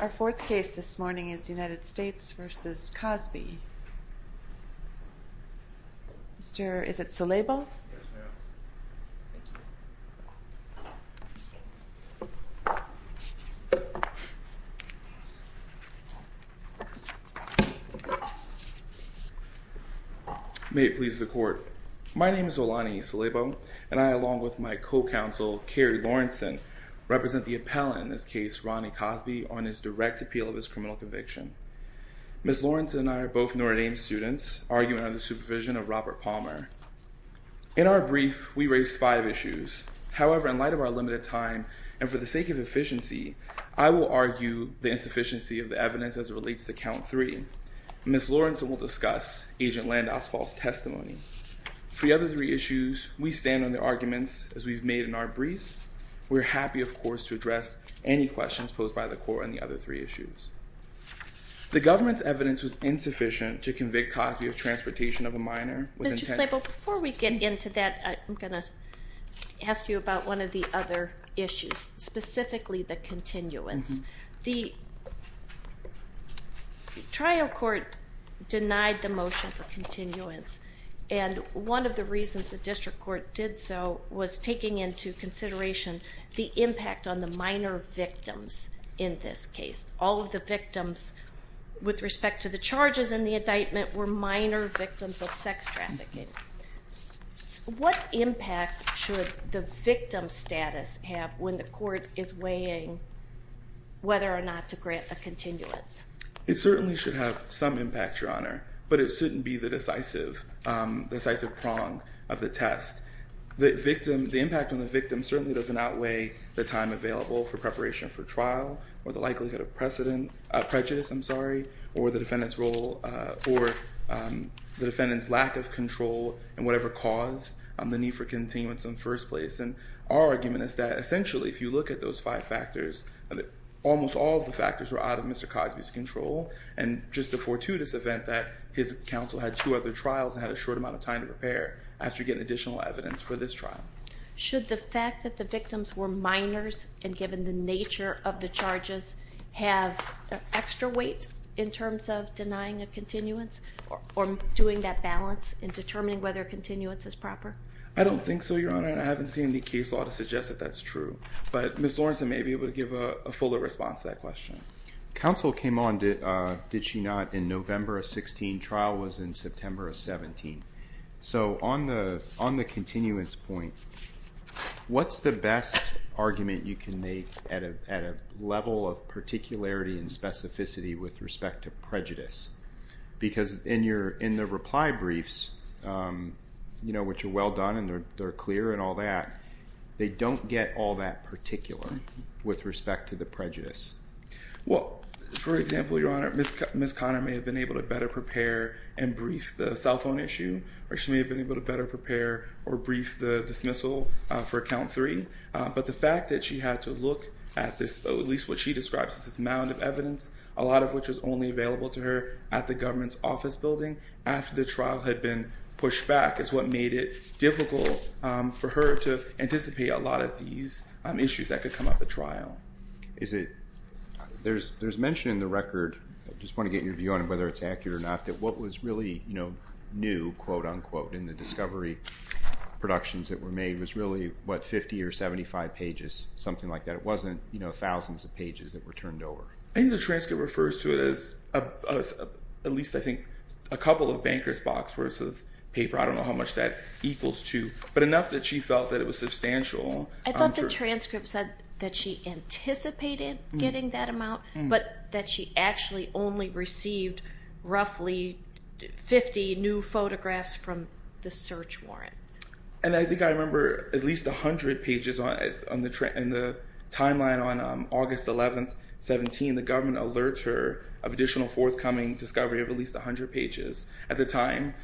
Our fourth case this morning is United States v. Cosby. Mr. is it Soleybo? May it please the court. My name is Olani Soleybo and I along with my co-counsel Kerry Lawrenson represent the appellant in this case Ronnie Cosby on his direct appeal of his criminal conviction. Ms. Lawrenson and I are both Notre Dame students arguing under the supervision of Robert Palmer. In our brief we raised five issues however in light of our limited time and for the sake of efficiency I will argue the insufficiency of the evidence as it relates to count three. Ms. Lawrenson will discuss agent Landau's false testimony. For the other three issues we stand on the arguments as we've made in our brief. We're happy of course to address any questions posed by the court on the other three issues. The government's evidence was insufficient to convict Cosby of transportation of a minor. Mr. Soleybo before we get into that I'm going to ask you about one of the other issues specifically the continuance. The trial court denied the motion for continuance and one of the reasons the district court did so was taking into consideration the impact on the minor victims in this case. All of the victims with respect to the charges and the indictment were minor victims of sex trafficking. What impact should the victim status have when the court is weighing whether or not to grant the continuance? It certainly should have some impact your honor but it shouldn't be the decisive prong of the test. The impact on the victim certainly doesn't outweigh the time available for preparation for trial or the likelihood of prejudice or the defendant's lack of control and whatever caused the need for continuance in the first place. Our argument is that essentially if you look at those five factors almost all of the factors were out of Mr. Cosby's control and just a fortuitous event that his counsel had two other trials and had a short amount of time to prepare after getting additional evidence for this trial. Should the fact that the victims were minors and given the nature of the charges have extra weight in terms of denying a continuance or doing that balance in determining whether continuance is proper? I don't think so your honor and I haven't seen any case law to suggest that that's true but Ms. Lawrence may be able to give a fuller response to that question. Counsel came on did she not in November of 16, trial was in September of 17. So on the continuance point, what's the best argument you can make at a level of particularity and specificity with respect to prejudice? Because in the reply briefs which are well done and they're clear and all that they don't get all that particular with respect to the prejudice. Well for example your honor Ms. Conner may have been able to better prepare and brief the cell phone issue or she may have been able to better prepare or brief the dismissal for account three but the fact that she had to look at this at least what she describes as this mound of evidence a lot of which was only available to her at the government's office building after the trial had been pushed back is what made it difficult for her to resolve these issues that could come up at trial. Is it there's mention in the record I just want to get your view on it whether it's accurate or not that what was really you know new quote unquote in the discovery productions that were made was really what 50 or 75 pages something like that it wasn't you know thousands of pages that were turned over. I think the transcript refers to it as at least I think a couple of bankers box worth of paper I don't know how much that equals to but enough that she felt that it was substantial I thought the transcript said that she anticipated getting that amount but that she actually only received roughly 50 new photographs from the search warrant. And I think I remember at least a hundred pages on it on the trend in the timeline on August 11th 17 the government alerts her of additional forthcoming discovery of at least a hundred pages at the time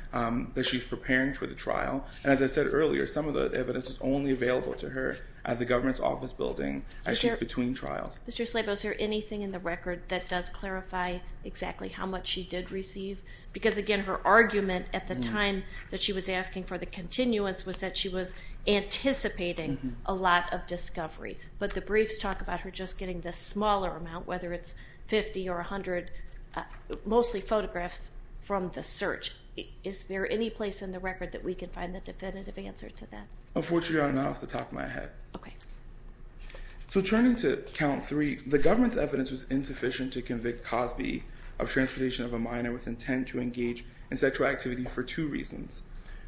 that she's preparing for the trial and as I said earlier some of the evidence is only available to her at the government's office building as she's between trials. Mr. Slabo is there anything in the record that does clarify exactly how much she did receive because again her argument at the time that she was asking for the continuance was that she was anticipating a lot of discovery but the briefs talk about her just getting this smaller amount whether it's 50 or 100 mostly photographs from the search. Is there any place in the record that we can find the definitive answer to that? Unfortunately not off the top of my head. So turning to count three the government's evidence was insufficient to convict Cosby of transportation of a minor with intent to engage in sexual activity for two reasons.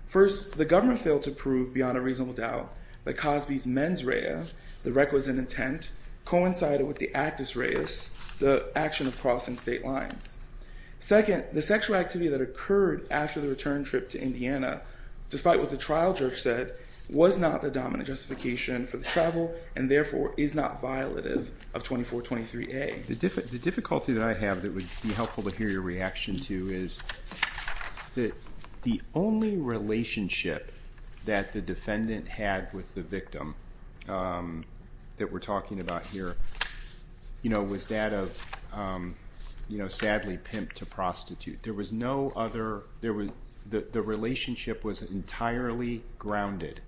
First the government failed to prove beyond a reasonable doubt that Cosby's mens rea, the requisite intent coincided with the actus reus, the action of crossing state lines. Second, the sexual activity that occurred after the return trip to Indiana despite what the trial judge said was not the dominant justification for the travel and therefore is not violative of 2423A. The difficulty that I have that would be helpful to hear your reaction to is that the only relationship that the defendant had with the victim that we're talking about here was that of sadly pimp to prostitute. There was no other, the relationship was entirely grounded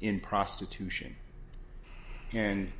in prostitution and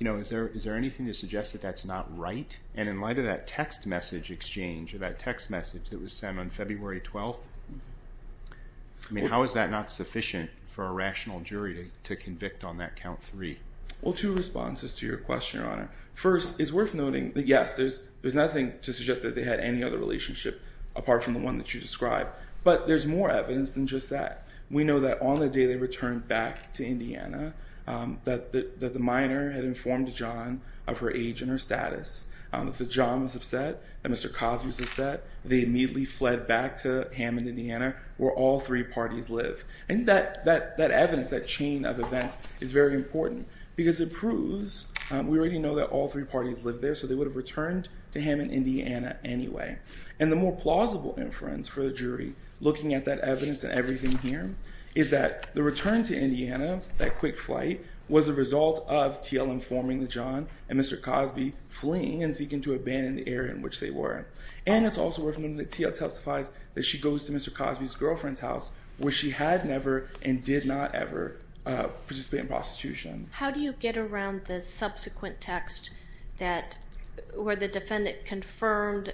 is there anything to suggest that that's not right and in light of that text message exchange or that text message that was sent on February 12th, I mean how is that not sufficient for a rational jury to convict on that count three? Well two responses to your question your honor. First it's worth noting that yes there's nothing to suggest that they had any other relationship apart from the one that you described but there's more evidence than just that. We know that on the day they returned back to Indiana that the minor had informed John of her age and her status, that John was upset, that Mr. Cosby was upset, they immediately fled back to Hammond, Indiana where all three parties live and that evidence, that chain of events is very important because it proves, we already know that all three parties lived there so they would have returned to Hammond, Indiana anyway. And the more plausible inference for the jury looking at that evidence and everything here is that the return to Indiana, that quick flight was a result of TL informing John and Mr. Cosby fleeing and seeking to abandon the area in which they were. And it's also worth noting that TL testifies that she goes to Mr. Cosby's girlfriend's house where she had never and did not ever participate in prostitution. How do you get around the subsequent text that, where the defendant confirmed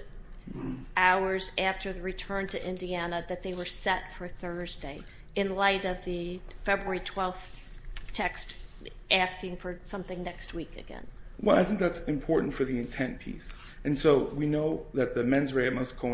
hours after the return to Indiana that they were set for Thursday in light of the February 12th text asking for something next week again? Well I think that's important for the intent piece and so we know that the men's rate must have, Mr.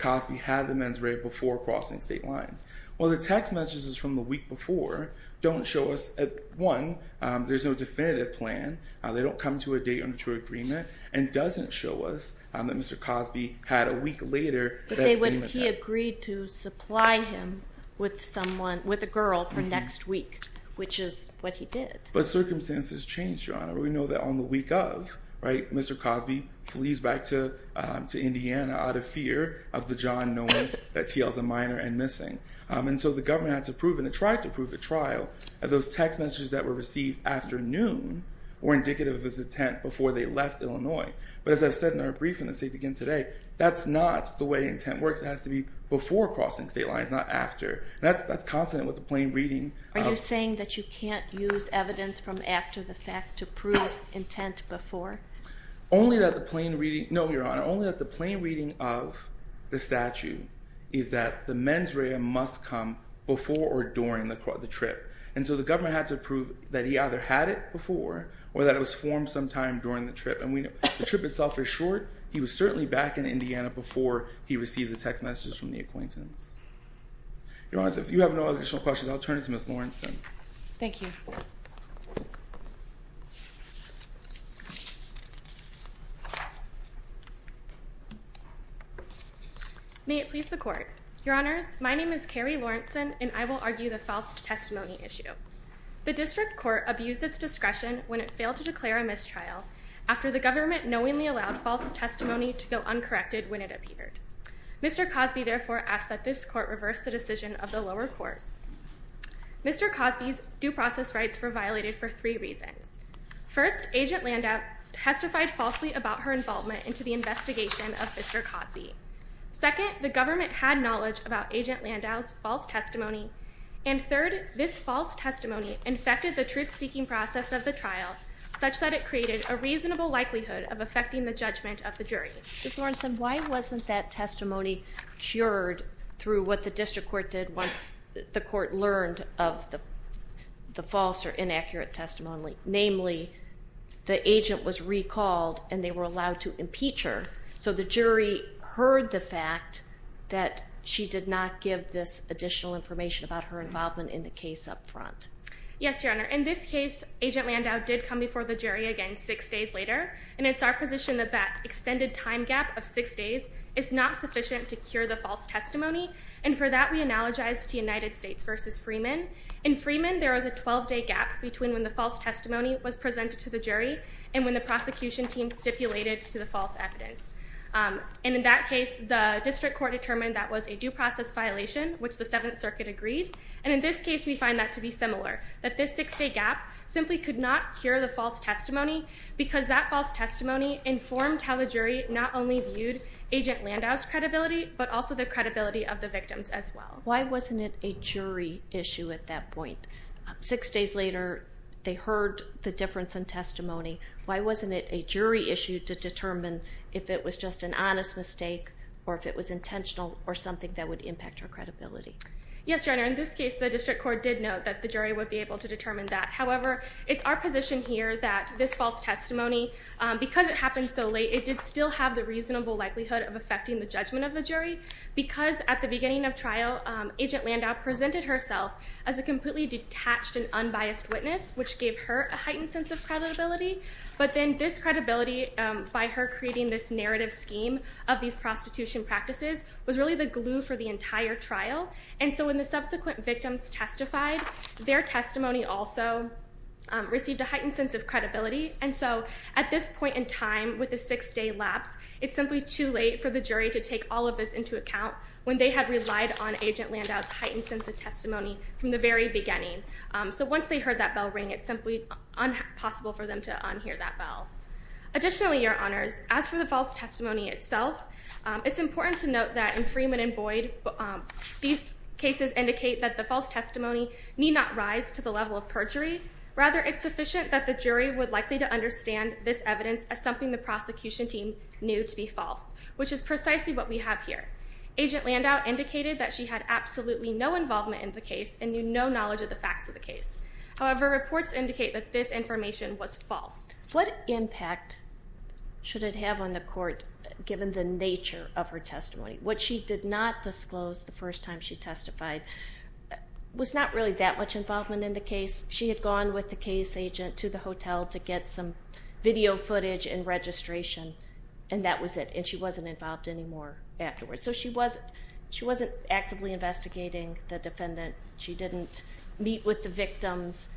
Cosby had the men's rate before crossing state lines. Well the text messages from the week before don't show us, one, there's no definitive plan. They don't come to a date on a true agreement and doesn't show us that Mr. Cosby had a week later that same attempt. But they would, he agreed to supply him with someone, with a girl for next week which is what he did. But circumstances change, Your Honor. We know that on the week of, right, Mr. Cosby flees back to Indiana out of fear of the T.L.'s a minor and missing. And so the government had to prove, and it tried to prove at trial, that those text messages that were received after noon were indicative of his intent before they left Illinois. But as I've said in our briefing, I'll say it again today, that's not the way intent works. It has to be before crossing state lines, not after. That's consonant with the plain reading of- Are you saying that you can't use evidence from after the fact to prove intent before? Okay. Only that the plain reading, no, Your Honor, only that the plain reading of the statute is that the mens rea must come before or during the trip. And so the government had to prove that he either had it before or that it was formed sometime during the trip. And we know the trip itself is short. He was certainly back in Indiana before he received the text messages from the acquaintance. Your Honor, if you have no additional questions, I'll turn it to Ms. Lawrenston. Thank you. May it please the court. Your Honors, my name is Carrie Lawrenson and I will argue the false testimony issue. The district court abused its discretion when it failed to declare a mistrial after the government knowingly allowed false testimony to go uncorrected when it appeared. Mr. Cosby therefore asked that this court reverse the decision of the lower courts. Mr. Cosby's due process rights were violated for three reasons. First, Agent Landau testified falsely about her involvement into the investigation of Mr. Cosby. Second, the government had knowledge about Agent Landau's false testimony. And third, this false testimony infected the truth-seeking process of the trial such that it created a reasonable likelihood of affecting the judgment of the jury. Ms. Lawrenson, why wasn't that testimony cured through what the district court did once the court learned of the false or inaccurate testimony, namely the agent was recalled and they were allowed to impeach her so the jury heard the fact that she did not give this additional information about her involvement in the case up front? Yes, Your Honor. In this case, Agent Landau did come before the jury again six days later and it's our position that that extended time gap of six days is not sufficient to cure the false testimony and for that we analogize to United States versus Freeman. In Freeman, there was a 12-day gap between when the false testimony was presented to the jury and when the prosecution team stipulated to the false evidence. And in that case, the district court determined that was a due process violation, which the Seventh Circuit agreed. And in this case, we find that to be similar, that this six-day gap simply could not cure the false testimony because that false testimony informed how the jury not only viewed Agent of the victims as well. Why wasn't it a jury issue at that point? Six days later, they heard the difference in testimony. Why wasn't it a jury issue to determine if it was just an honest mistake or if it was intentional or something that would impact her credibility? Yes, Your Honor. In this case, the district court did note that the jury would be able to determine that. However, it's our position here that this false testimony, because it happened so late, it did still have the reasonable likelihood of affecting the judgment of the jury because at the beginning of trial, Agent Landau presented herself as a completely detached and unbiased witness, which gave her a heightened sense of credibility. But then this credibility by her creating this narrative scheme of these prostitution practices was really the glue for the entire trial. And so when the subsequent victims testified, their testimony also received a heightened sense of credibility. And so at this point in time, with the six-day lapse, it's simply too late for the jury to take all of this into account when they had relied on Agent Landau's heightened sense of testimony from the very beginning. So once they heard that bell ring, it's simply impossible for them to unhear that bell. Additionally, Your Honors, as for the false testimony itself, it's important to note that in Freeman and Boyd, these cases indicate that the false testimony need not rise to the level of perjury. Rather, it's sufficient that the jury would likely to understand this evidence as something the prosecution team knew to be false, which is precisely what we have here. Agent Landau indicated that she had absolutely no involvement in the case and knew no knowledge of the facts of the case. However, reports indicate that this information was false. What impact should it have on the court, given the nature of her testimony? What she did not disclose the first time she testified was not really that much involvement in the case. She had gone with the case agent to the hotel to get some video footage and registration, and that was it. And she wasn't involved anymore afterwards. So she wasn't actively investigating the defendant. She didn't meet with the victims.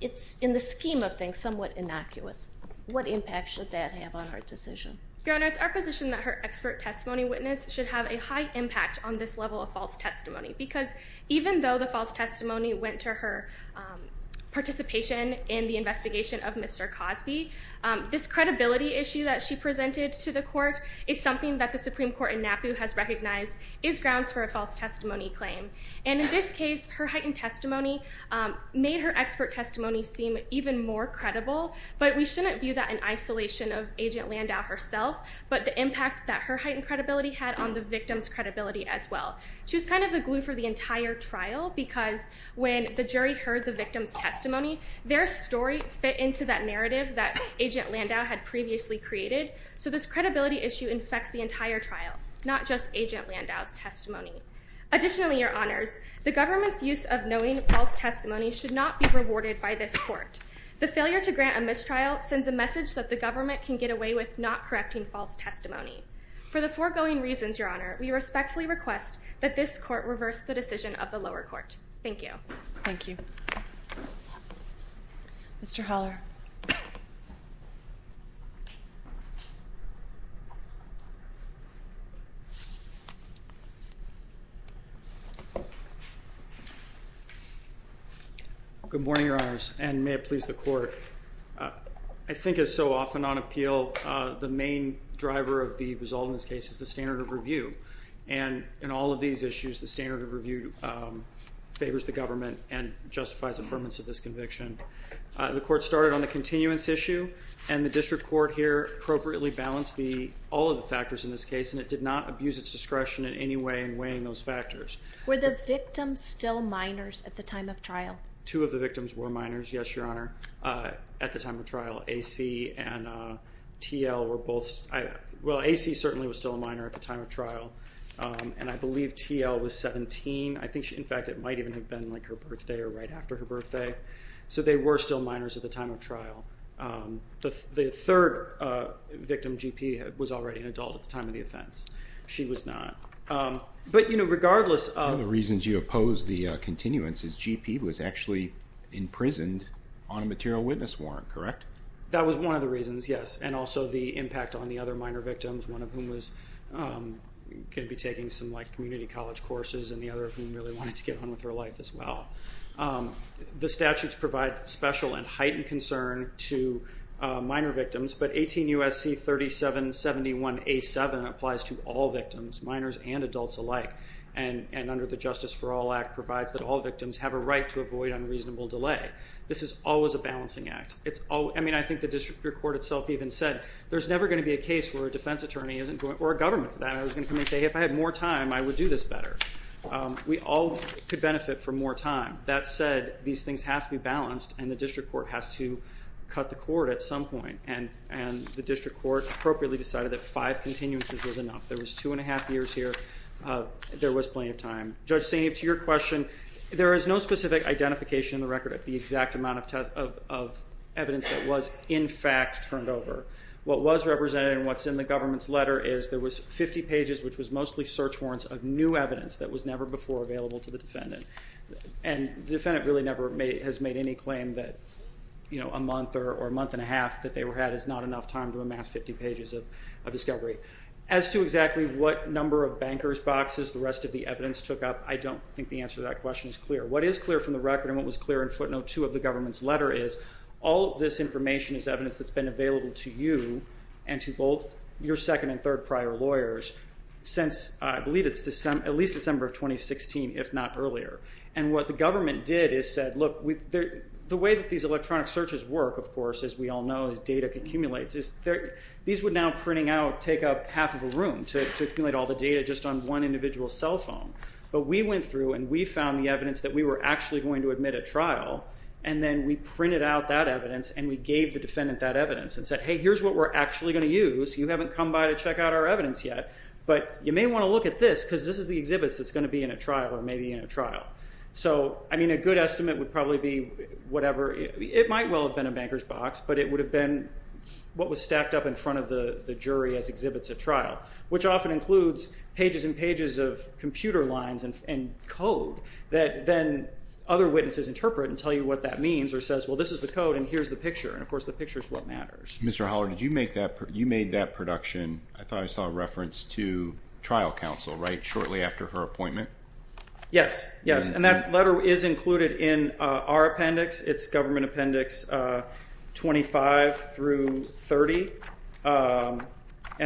It's in the scheme of things somewhat innocuous. What impact should that have on her decision? Your Honors, our position that her expert testimony witness should have a high impact on this level of false testimony. Because even though the false testimony went to her participation in the investigation of Mr. Cosby, this credibility issue that she presented to the court is something that the Supreme Court in NAPU has recognized is grounds for a false testimony claim. And in this case, her heightened testimony made her expert testimony seem even more credible, but we shouldn't view that in isolation of Agent Landau herself, but the impact that her heightened credibility had on the victim's credibility as well. She was kind of the glue for the entire trial, because when the jury heard the victim's testimony, their story fit into that narrative that Agent Landau had previously created. So this credibility issue infects the entire trial, not just Agent Landau's testimony. Additionally, Your Honors, the government's use of knowing false testimony should not be rewarded by this court. The failure to grant a mistrial sends a message that the government can get away with not correcting false testimony. For the foregoing reasons, Your Honor, we respectfully request that this court reverse the decision of the lower court. Thank you. Thank you. Mr. Holler. Good morning, Your Honors, and may it please the court. I think as so often on appeal, the main driver of the result in this case is the standard of review, and in all of these issues, the standard of review favors the government and justifies affirmance of this conviction. The court started on the continuance issue, and the district court here appropriately balanced all of the factors in this case, and it did not abuse its discretion in any way in weighing those factors. Were the victims still minors at the time of trial? Two of the victims were minors, yes, Your Honor. At the time of trial, A.C. and T.L. were both, well, A.C. certainly was still a minor at the time of trial, and I believe T.L. was 17. I think she, in fact, it might even have been like her birthday or right after her birthday, so they were still minors at the time of trial. The third victim, G.P., was already an adult at the time of the offense. She was not. But, you know, regardless of— The continuance is G.P. was actually imprisoned on a material witness warrant, correct? That was one of the reasons, yes, and also the impact on the other minor victims, one of whom was going to be taking some, like, community college courses, and the other of whom really wanted to get on with her life as well. The statutes provide special and heightened concern to minor victims, but 18 U.S.C. 3771 A.7 applies to all victims, minors and adults alike, and under the Justice for All Act provides that all victims have a right to avoid unreasonable delay. This is always a balancing act. It's always—I mean, I think the district court itself even said, there's never going to be a case where a defense attorney isn't going—or a government that is going to come and say, if I had more time, I would do this better. We all could benefit from more time. That said, these things have to be balanced, and the district court has to cut the court at some point, and the district court appropriately decided that five continuances was enough. There was two and a half years here. There was plenty of time. Judge Saini, to your question, there is no specific identification in the record of the exact amount of evidence that was, in fact, turned over. What was represented and what's in the government's letter is there was 50 pages, which was mostly search warrants of new evidence that was never before available to the defendant, and the defendant really never has made any claim that a month or a month and a half that they had is not enough time to amass 50 pages of discovery. As to exactly what number of banker's boxes the rest of the evidence took up, I don't think the answer to that question is clear. What is clear from the record and what was clear in footnote two of the government's letter is all of this information is evidence that's been available to you and to both your second and third prior lawyers since, I believe it's at least December of 2016, if not earlier, and what the government did is said, look, the way that these electronic searches work, of course, as we all know, as data accumulates, these would now, printing out, take up half of a room to accumulate all the data just on one individual's cell phone, but we went through and we found the evidence that we were actually going to admit at trial, and then we printed out that evidence and we gave the defendant that evidence and said, hey, here's what we're actually going to use. You haven't come by to check out our evidence yet, but you may want to look at this because this is the exhibits that's going to be in a trial or maybe in a trial. So, I mean, a good estimate would probably be whatever. It might well have been a banker's box, but it would have been what was stacked up in front of the jury as exhibits at trial, which often includes pages and pages of computer lines and code that then other witnesses interpret and tell you what that means or says, well, this is the code and here's the picture, and of course, the picture is what matters. Mr. Holler, did you make that, you made that production, I thought I saw a reference to trial counsel, right, shortly after her appointment? Yes. Yes, and that letter is included in our appendix. It's government appendix 25 through 30, and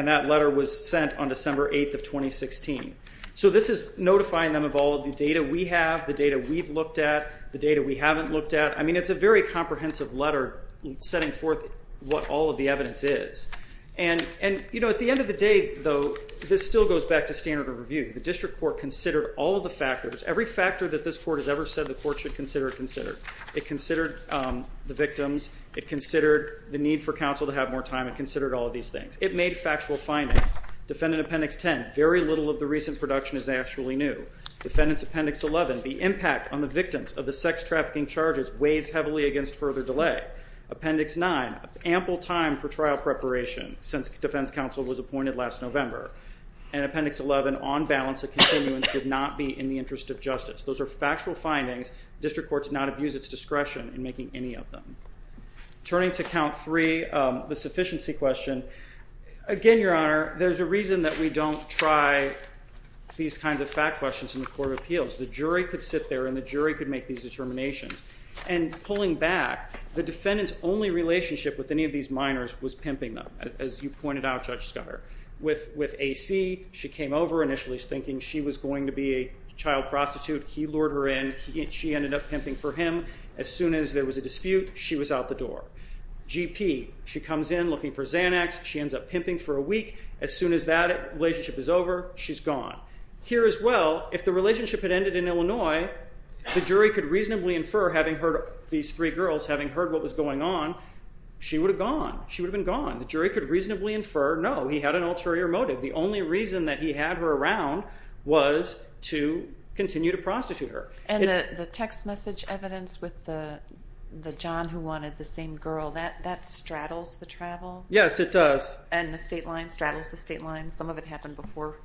that letter was sent on December 8th of 2016. So this is notifying them of all of the data we have, the data we've looked at, the data we haven't looked at. I mean, it's a very comprehensive letter setting forth what all of the evidence is, and, you know, at the end of the day, though, this still goes back to standard of review. The district court considered all of the factors, every factor that this court has ever said the court should consider, considered. It considered the victims, it considered the need for counsel to have more time, it considered all of these things. It made factual findings. Defendant appendix 10, very little of the recent production is actually new. Defendant's appendix 11, the impact on the victims of the sex trafficking charges weighs heavily against further delay. Appendix 9, ample time for trial preparation since defense counsel was appointed last November. And appendix 11, on balance of continuance, did not be in the interest of justice. Those are factual findings. District courts did not abuse its discretion in making any of them. Turning to count three, the sufficiency question, again, Your Honor, there's a reason that we don't try these kinds of fact questions in the court of appeals. The jury could sit there and the jury could make these determinations, and pulling back, the defendant's only relationship with any of these minors was pimping them, as you pointed out, Judge Schuyler. With A.C., she came over initially thinking she was going to be a child prostitute. He lured her in. She ended up pimping for him. As soon as there was a dispute, she was out the door. G.P., she comes in looking for Xanax. She ends up pimping for a week. As soon as that relationship is over, she's gone. Here as well, if the relationship had ended in Illinois, the jury could reasonably infer, having heard these three girls, having heard what was going on, she would have gone. She would have been gone. The jury could reasonably infer, no, he had an ulterior motive. The only reason that he had her around was to continue to prostitute her. And the text message evidence with the John who wanted the same girl, that straddles the travel? Yes, it does. And the state line straddles the state line? Some of it happened before?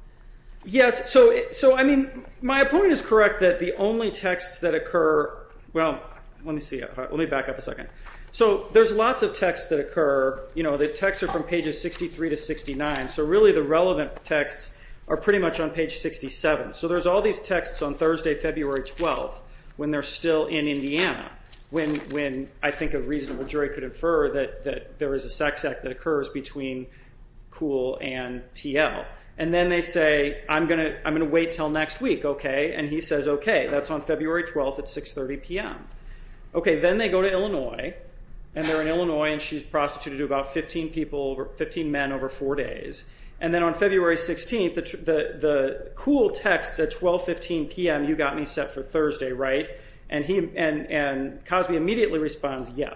Yes. So, I mean, my point is correct that the only texts that occur, well, let me see. Let me back up a second. So there's lots of texts that occur. The texts are from pages 63 to 69, so really the relevant texts are pretty much on page 67. So there's all these texts on Thursday, February 12th, when they're still in Indiana, when I think a reasonable jury could infer that there is a sex act that occurs between Kuhl and TL. And then they say, I'm going to wait until next week, okay? And he says, okay, that's on February 12th at 6.30 p.m. Okay, then they go to Illinois, and they're in Illinois, and she's prostituted to about 15 people, 15 men over four days. And then on February 16th, the cool text at 12.15 p.m., you got me set for Thursday, right? And Cosby immediately responds, yeah.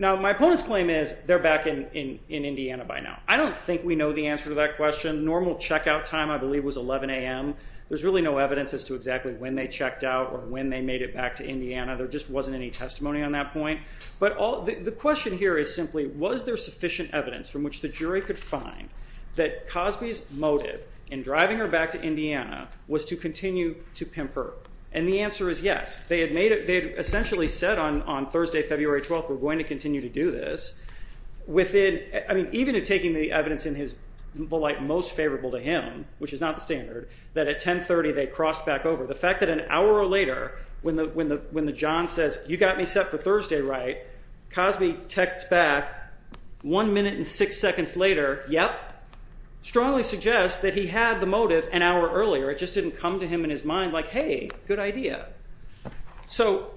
Now my opponent's claim is they're back in Indiana by now. I don't think we know the answer to that question. Normal checkout time, I believe, was 11 a.m. There's really no evidence as to exactly when they checked out or when they made it back to Indiana. There just wasn't any testimony on that point. But the question here is simply, was there sufficient evidence from which the jury could find that Cosby's motive in driving her back to Indiana was to continue to pimp her? And the answer is yes. They had essentially said on Thursday, February 12th, we're going to continue to do this. Even taking the evidence in the light most favorable to him, which is not the standard, that at 10.30 they crossed back over. The fact that an hour later, when the John says, you got me set for Thursday, right, Cosby texts back one minute and six seconds later, yep, strongly suggests that he had the motive an hour earlier. It just didn't come to him in his mind like, hey, good idea. So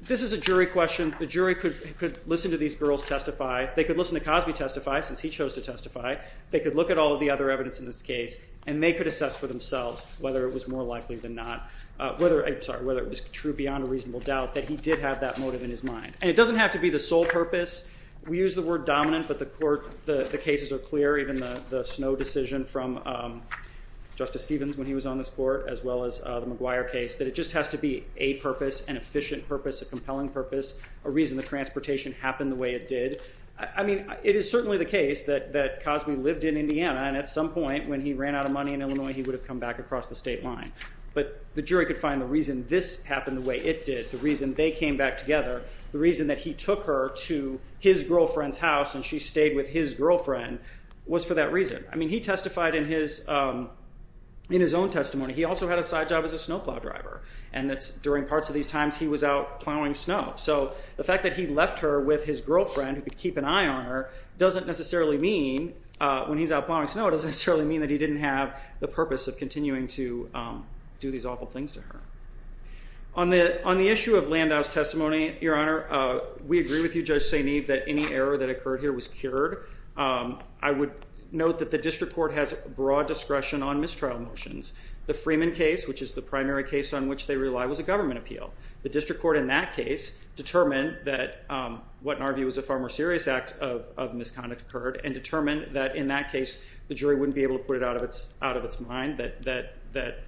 this is a jury question. The jury could listen to these girls testify. They could listen to Cosby testify, since he chose to testify. They could look at all of the other evidence in this case, and they could assess for themselves whether it was more likely than not, whether, I'm sorry, whether it was true beyond a reasonable doubt that he did have that motive in his mind. And it doesn't have to be the sole purpose. We use the word dominant, but the court, the cases are clear, even the Snow decision from Justice Stevens when he was on this court, as well as the McGuire case, that it just has to be a purpose, an efficient purpose, a compelling purpose, a reason the transportation happened the way it did. I mean, it is certainly the case that Cosby lived in Indiana, and at some point, when he ran out of money in Illinois, he would have come back across the state line. But the jury could find the reason this happened the way it did, the reason they came back together, the reason that he took her to his girlfriend's house and she stayed with his girlfriend was for that reason. I mean, he testified in his own testimony. He also had a side job as a snowplow driver. And during parts of these times, he was out plowing snow. So the fact that he left her with his girlfriend who could keep an eye on her doesn't necessarily mean when he's out plowing snow, it doesn't necessarily mean that he didn't have the purpose of continuing to do these awful things to her. On the issue of Landau's testimony, Your Honor, we agree with you, Judge St. Eve, that any error that occurred here was cured. I would note that the district court has broad discretion on mistrial motions. The Freeman case, which is the primary case on which they rely, was a government appeal. The district court in that case determined that what in our view is a far more serious act of misconduct occurred and determined that in that case the jury wouldn't be able to put it out of its mind, that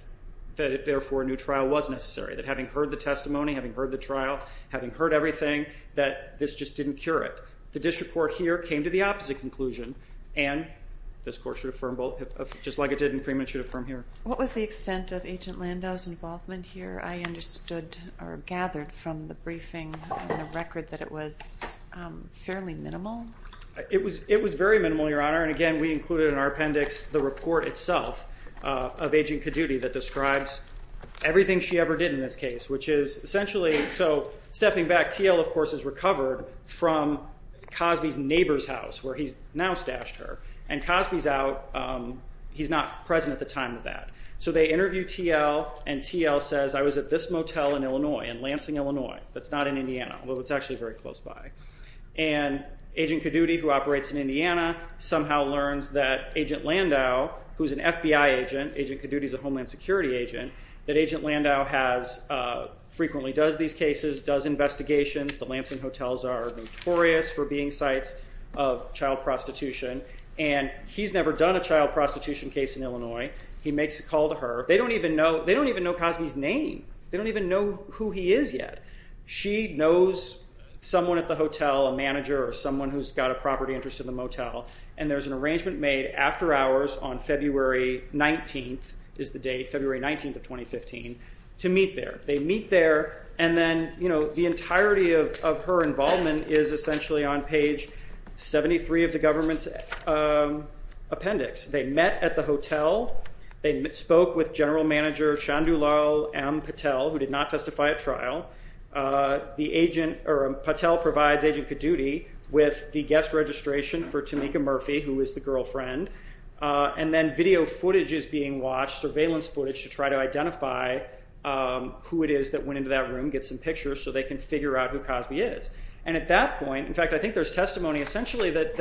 therefore a new trial was necessary, that having heard the testimony, having heard the trial, having heard everything, that this just didn't cure it. The district court here came to the opposite conclusion and this court should affirm both, just like it did in Freeman, should affirm here. What was the extent of Agent Landau's involvement here? I understood or gathered from the briefing and the record that it was fairly minimal. It was very minimal, Your Honor, and again, we included in our appendix the report itself of Agent Caduti that describes everything she ever did in this case, which is essentially, so stepping back, TL, of course, is recovered from Cosby's neighbor's house, where he's now stashed her, and Cosby's out. He's not present at the time of that. So they interview TL, and TL says, I was at this motel in Illinois, in Lansing, Illinois, that's not in Indiana, although it's actually very close by, and Agent Caduti, who operates in Indiana, somehow learns that Agent Landau, who's an FBI agent, Agent Caduti's a Homeland Security agent, that Agent Landau frequently does these cases, does investigations. The Lansing hotels are notorious for being sites of child prostitution, and he's never done a child prostitution case in Illinois. He makes a call to her. They don't even know Cosby's name. They don't even know who he is yet. She knows someone at the hotel, a manager, or someone who's got a property interest in the motel, and there's an arrangement made after hours on February 19th, is the date, February 19th of 2015, to meet there. They meet there, and then the entirety of her involvement is essentially on page 73 of the government's appendix. They met at the hotel. They spoke with General Manager Chandulal M. Patel, who did not testify at trial. The agent, or Patel provides Agent Caduti with the guest registration for Tamika Murphy, who is the girlfriend, and then video footage is being watched, surveillance footage, to try to identify who it is that went into that room, get some pictures, so they can figure out who Cosby is, and at that point, in fact, I think there's testimony, essentially, that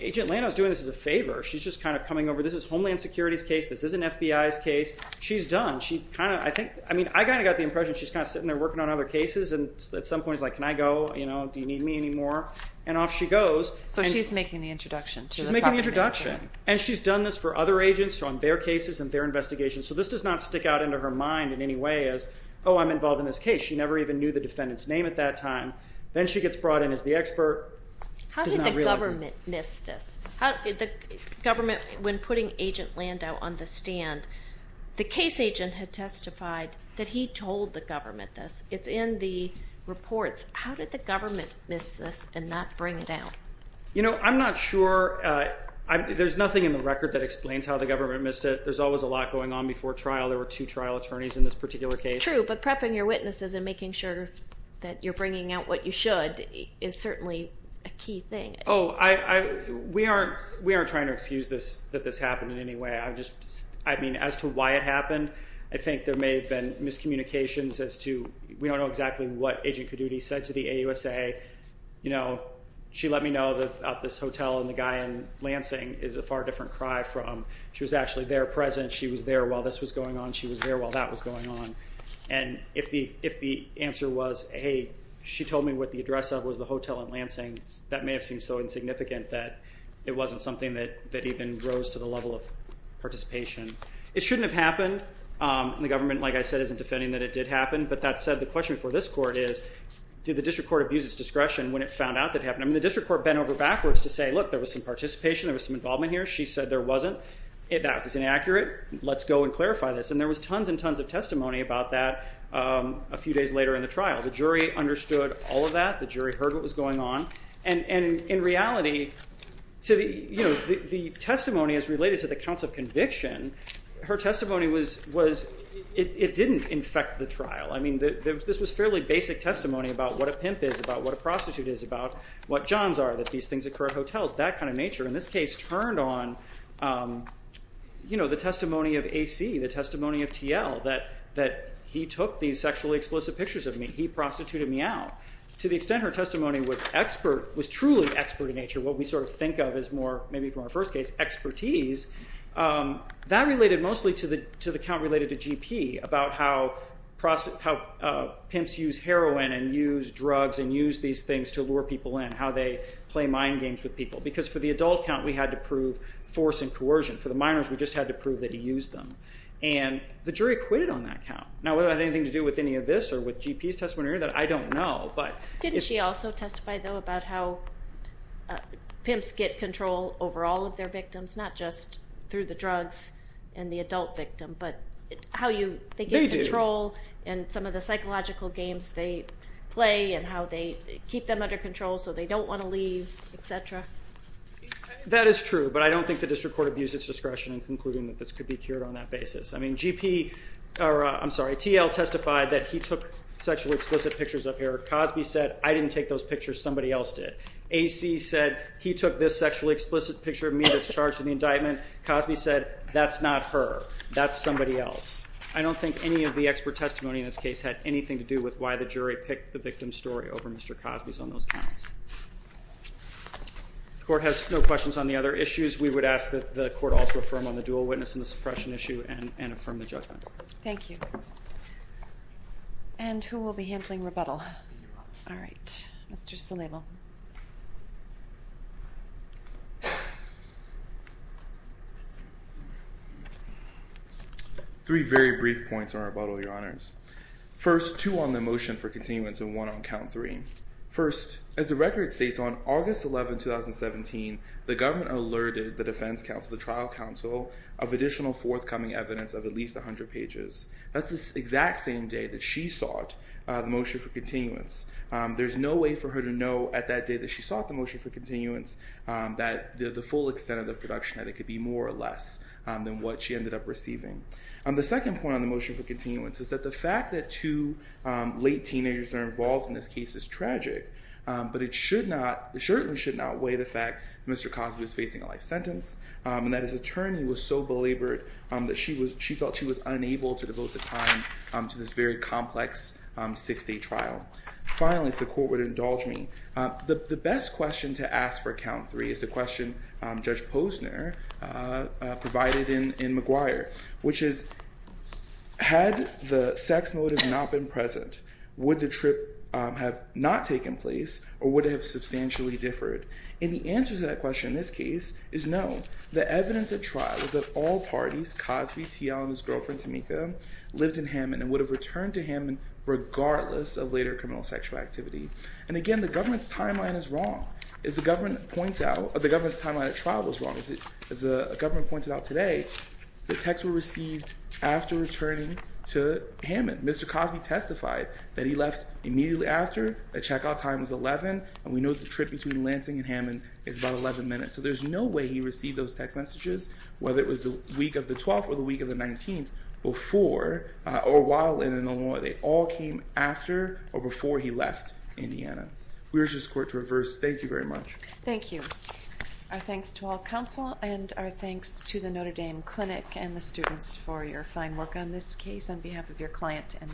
Agent Landau's doing this as a favor. She's just kind of coming over. This is Homeland Security's case. This isn't FBI's case. She's done. She kind of, I think, I mean, I kind of got the impression she's kind of sitting there working on other cases, and at some point, it's like, can I go, you know, do you need me anymore? And off she goes. So she's making the introduction. She's making the introduction, and she's done this for other agents, on their cases and their investigations, so this does not stick out into her mind in any way as, oh, I'm involved in this case. She never even knew the defendant's name at that time. Then she gets brought in as the expert. How did the government miss this? The government, when putting Agent Landau on the stand, the case agent had testified that he told the government this. It's in the reports. How did the government miss this and not bring it down? You know, I'm not sure. There's nothing in the record that explains how the government missed it. There's always a lot going on before trial. There were two trial attorneys in this particular case. True, but prepping your witnesses and making sure that you're bringing out what you should is certainly a key thing. Oh, we aren't trying to excuse that this happened in any way. I mean, as to why it happened, I think there may have been miscommunications as to, we don't know exactly what Agent Caduti said to the AUSA. You know, she let me know that this hotel and the guy in Lansing is a far different cry from. She was actually there present. She was there while this was going on. She was there while that was going on. And if the answer was, hey, she told me what the address of was the hotel in Lansing, that may have seemed so insignificant that it wasn't something that even rose to the level of participation. It shouldn't have happened. And the government, like I said, isn't defending that it did happen. But that said, the question for this court is, did the district court abuse its discretion when it found out that it happened? I mean, the district court bent over backwards to say, look, there was some participation. There was some involvement here. She said there wasn't. That was inaccurate. Let's go and clarify this. And there was tons and tons of testimony about that a few days later in the trial. The jury understood all of that. The jury heard what was going on. And in reality, the testimony is related to the counts of conviction. Her testimony was, it didn't infect the trial. I mean, this was fairly basic testimony about what a pimp is, about what a prostitute is, about what jobs are, that these things occur at hotels, that kind of nature. And this case turned on the testimony of AC, the testimony of TL, that he took these sexually explicit pictures of me. He prostituted me out. To the extent her testimony was truly expert in nature, what we sort of think of as more, maybe from our first case, expertise, that related mostly to the count related to GP, about how pimps use heroin and use drugs and use these things to lure people in, how they play mind games with people. Because for the adult count, we had to prove force and coercion. For the minors, we just had to prove that he used them. And the jury acquitted on that count. Now whether that had anything to do with any of this or with GP's testimony or any of that, I don't know. But... Didn't she also testify, though, about how pimps get control over all of their victims, not just through the drugs and the adult victim, but how they get control and some of the psychological games they play and how they keep them under control so they don't want to leave, et cetera? That is true. But I don't think the district court abused its discretion in concluding that this could be cured on that basis. I mean, GP... Or, I'm sorry, TL testified that he took sexually explicit pictures of her. Cosby said, I didn't take those pictures. Somebody else did. AC said, he took this sexually explicit picture of me that's charged in the indictment. Cosby said, that's not her. That's somebody else. I don't think any of the expert testimony in this case had anything to do with why the jury picked the victim's story over Mr. Cosby's on those counts. If the court has no questions on the other issues, we would ask that the court also affirm on the dual witness and the suppression issue and affirm the judgment. Thank you. And who will be handling rebuttal? All right. Mr. Salivo. Three very brief points on rebuttal, Your Honors. First, two on the motion for continuance and one on count three. First, as the record states, on August 11, 2017, the government alerted the defense counsel, the trial counsel, of additional forthcoming evidence of at least 100 pages. That's the exact same day that she sought the motion for continuance. There's no way for her to know at that day that she sought the motion for continuance that the full extent of the production, that it could be more or less than what she ended up receiving. The second point on the motion for continuance is that the fact that two late teenagers are involved in this case is tragic, but it certainly should not weigh the fact that Mr. Cosby was facing a life sentence and that his attorney was so belabored that she felt she was unable to devote the time to this very complex six-day trial. Finally, if the court would indulge me, the best question to ask for count three is the question Judge Posner provided in McGuire, which is, had the sex motive not been present, would the trip have not taken place or would it have substantially differed? And the answer to that question in this case is no. The evidence at trial is that all parties, Cosby, TL, and his girlfriend, Tamika, lived in Hammond and would have returned to Hammond regardless of later criminal sexual activity. And again, the government's timeline is wrong. As the government points out, the government's timeline at trial was wrong. As the government pointed out today, the texts were received after returning to Hammond. Mr. Cosby testified that he left immediately after, the checkout time was 11, and we know the trip between Lansing and Hammond is about 11 minutes, so there's no way he received those text messages, whether it was the week of the 12th or the week of the 19th, before or while in Illinois. They all came after or before he left Indiana. We urge this court to reverse. Thank you very much. Thank you. Our thanks to all counsel and our thanks to the Notre Dame Clinic and the students for your fine work on this case on behalf of your client and the court.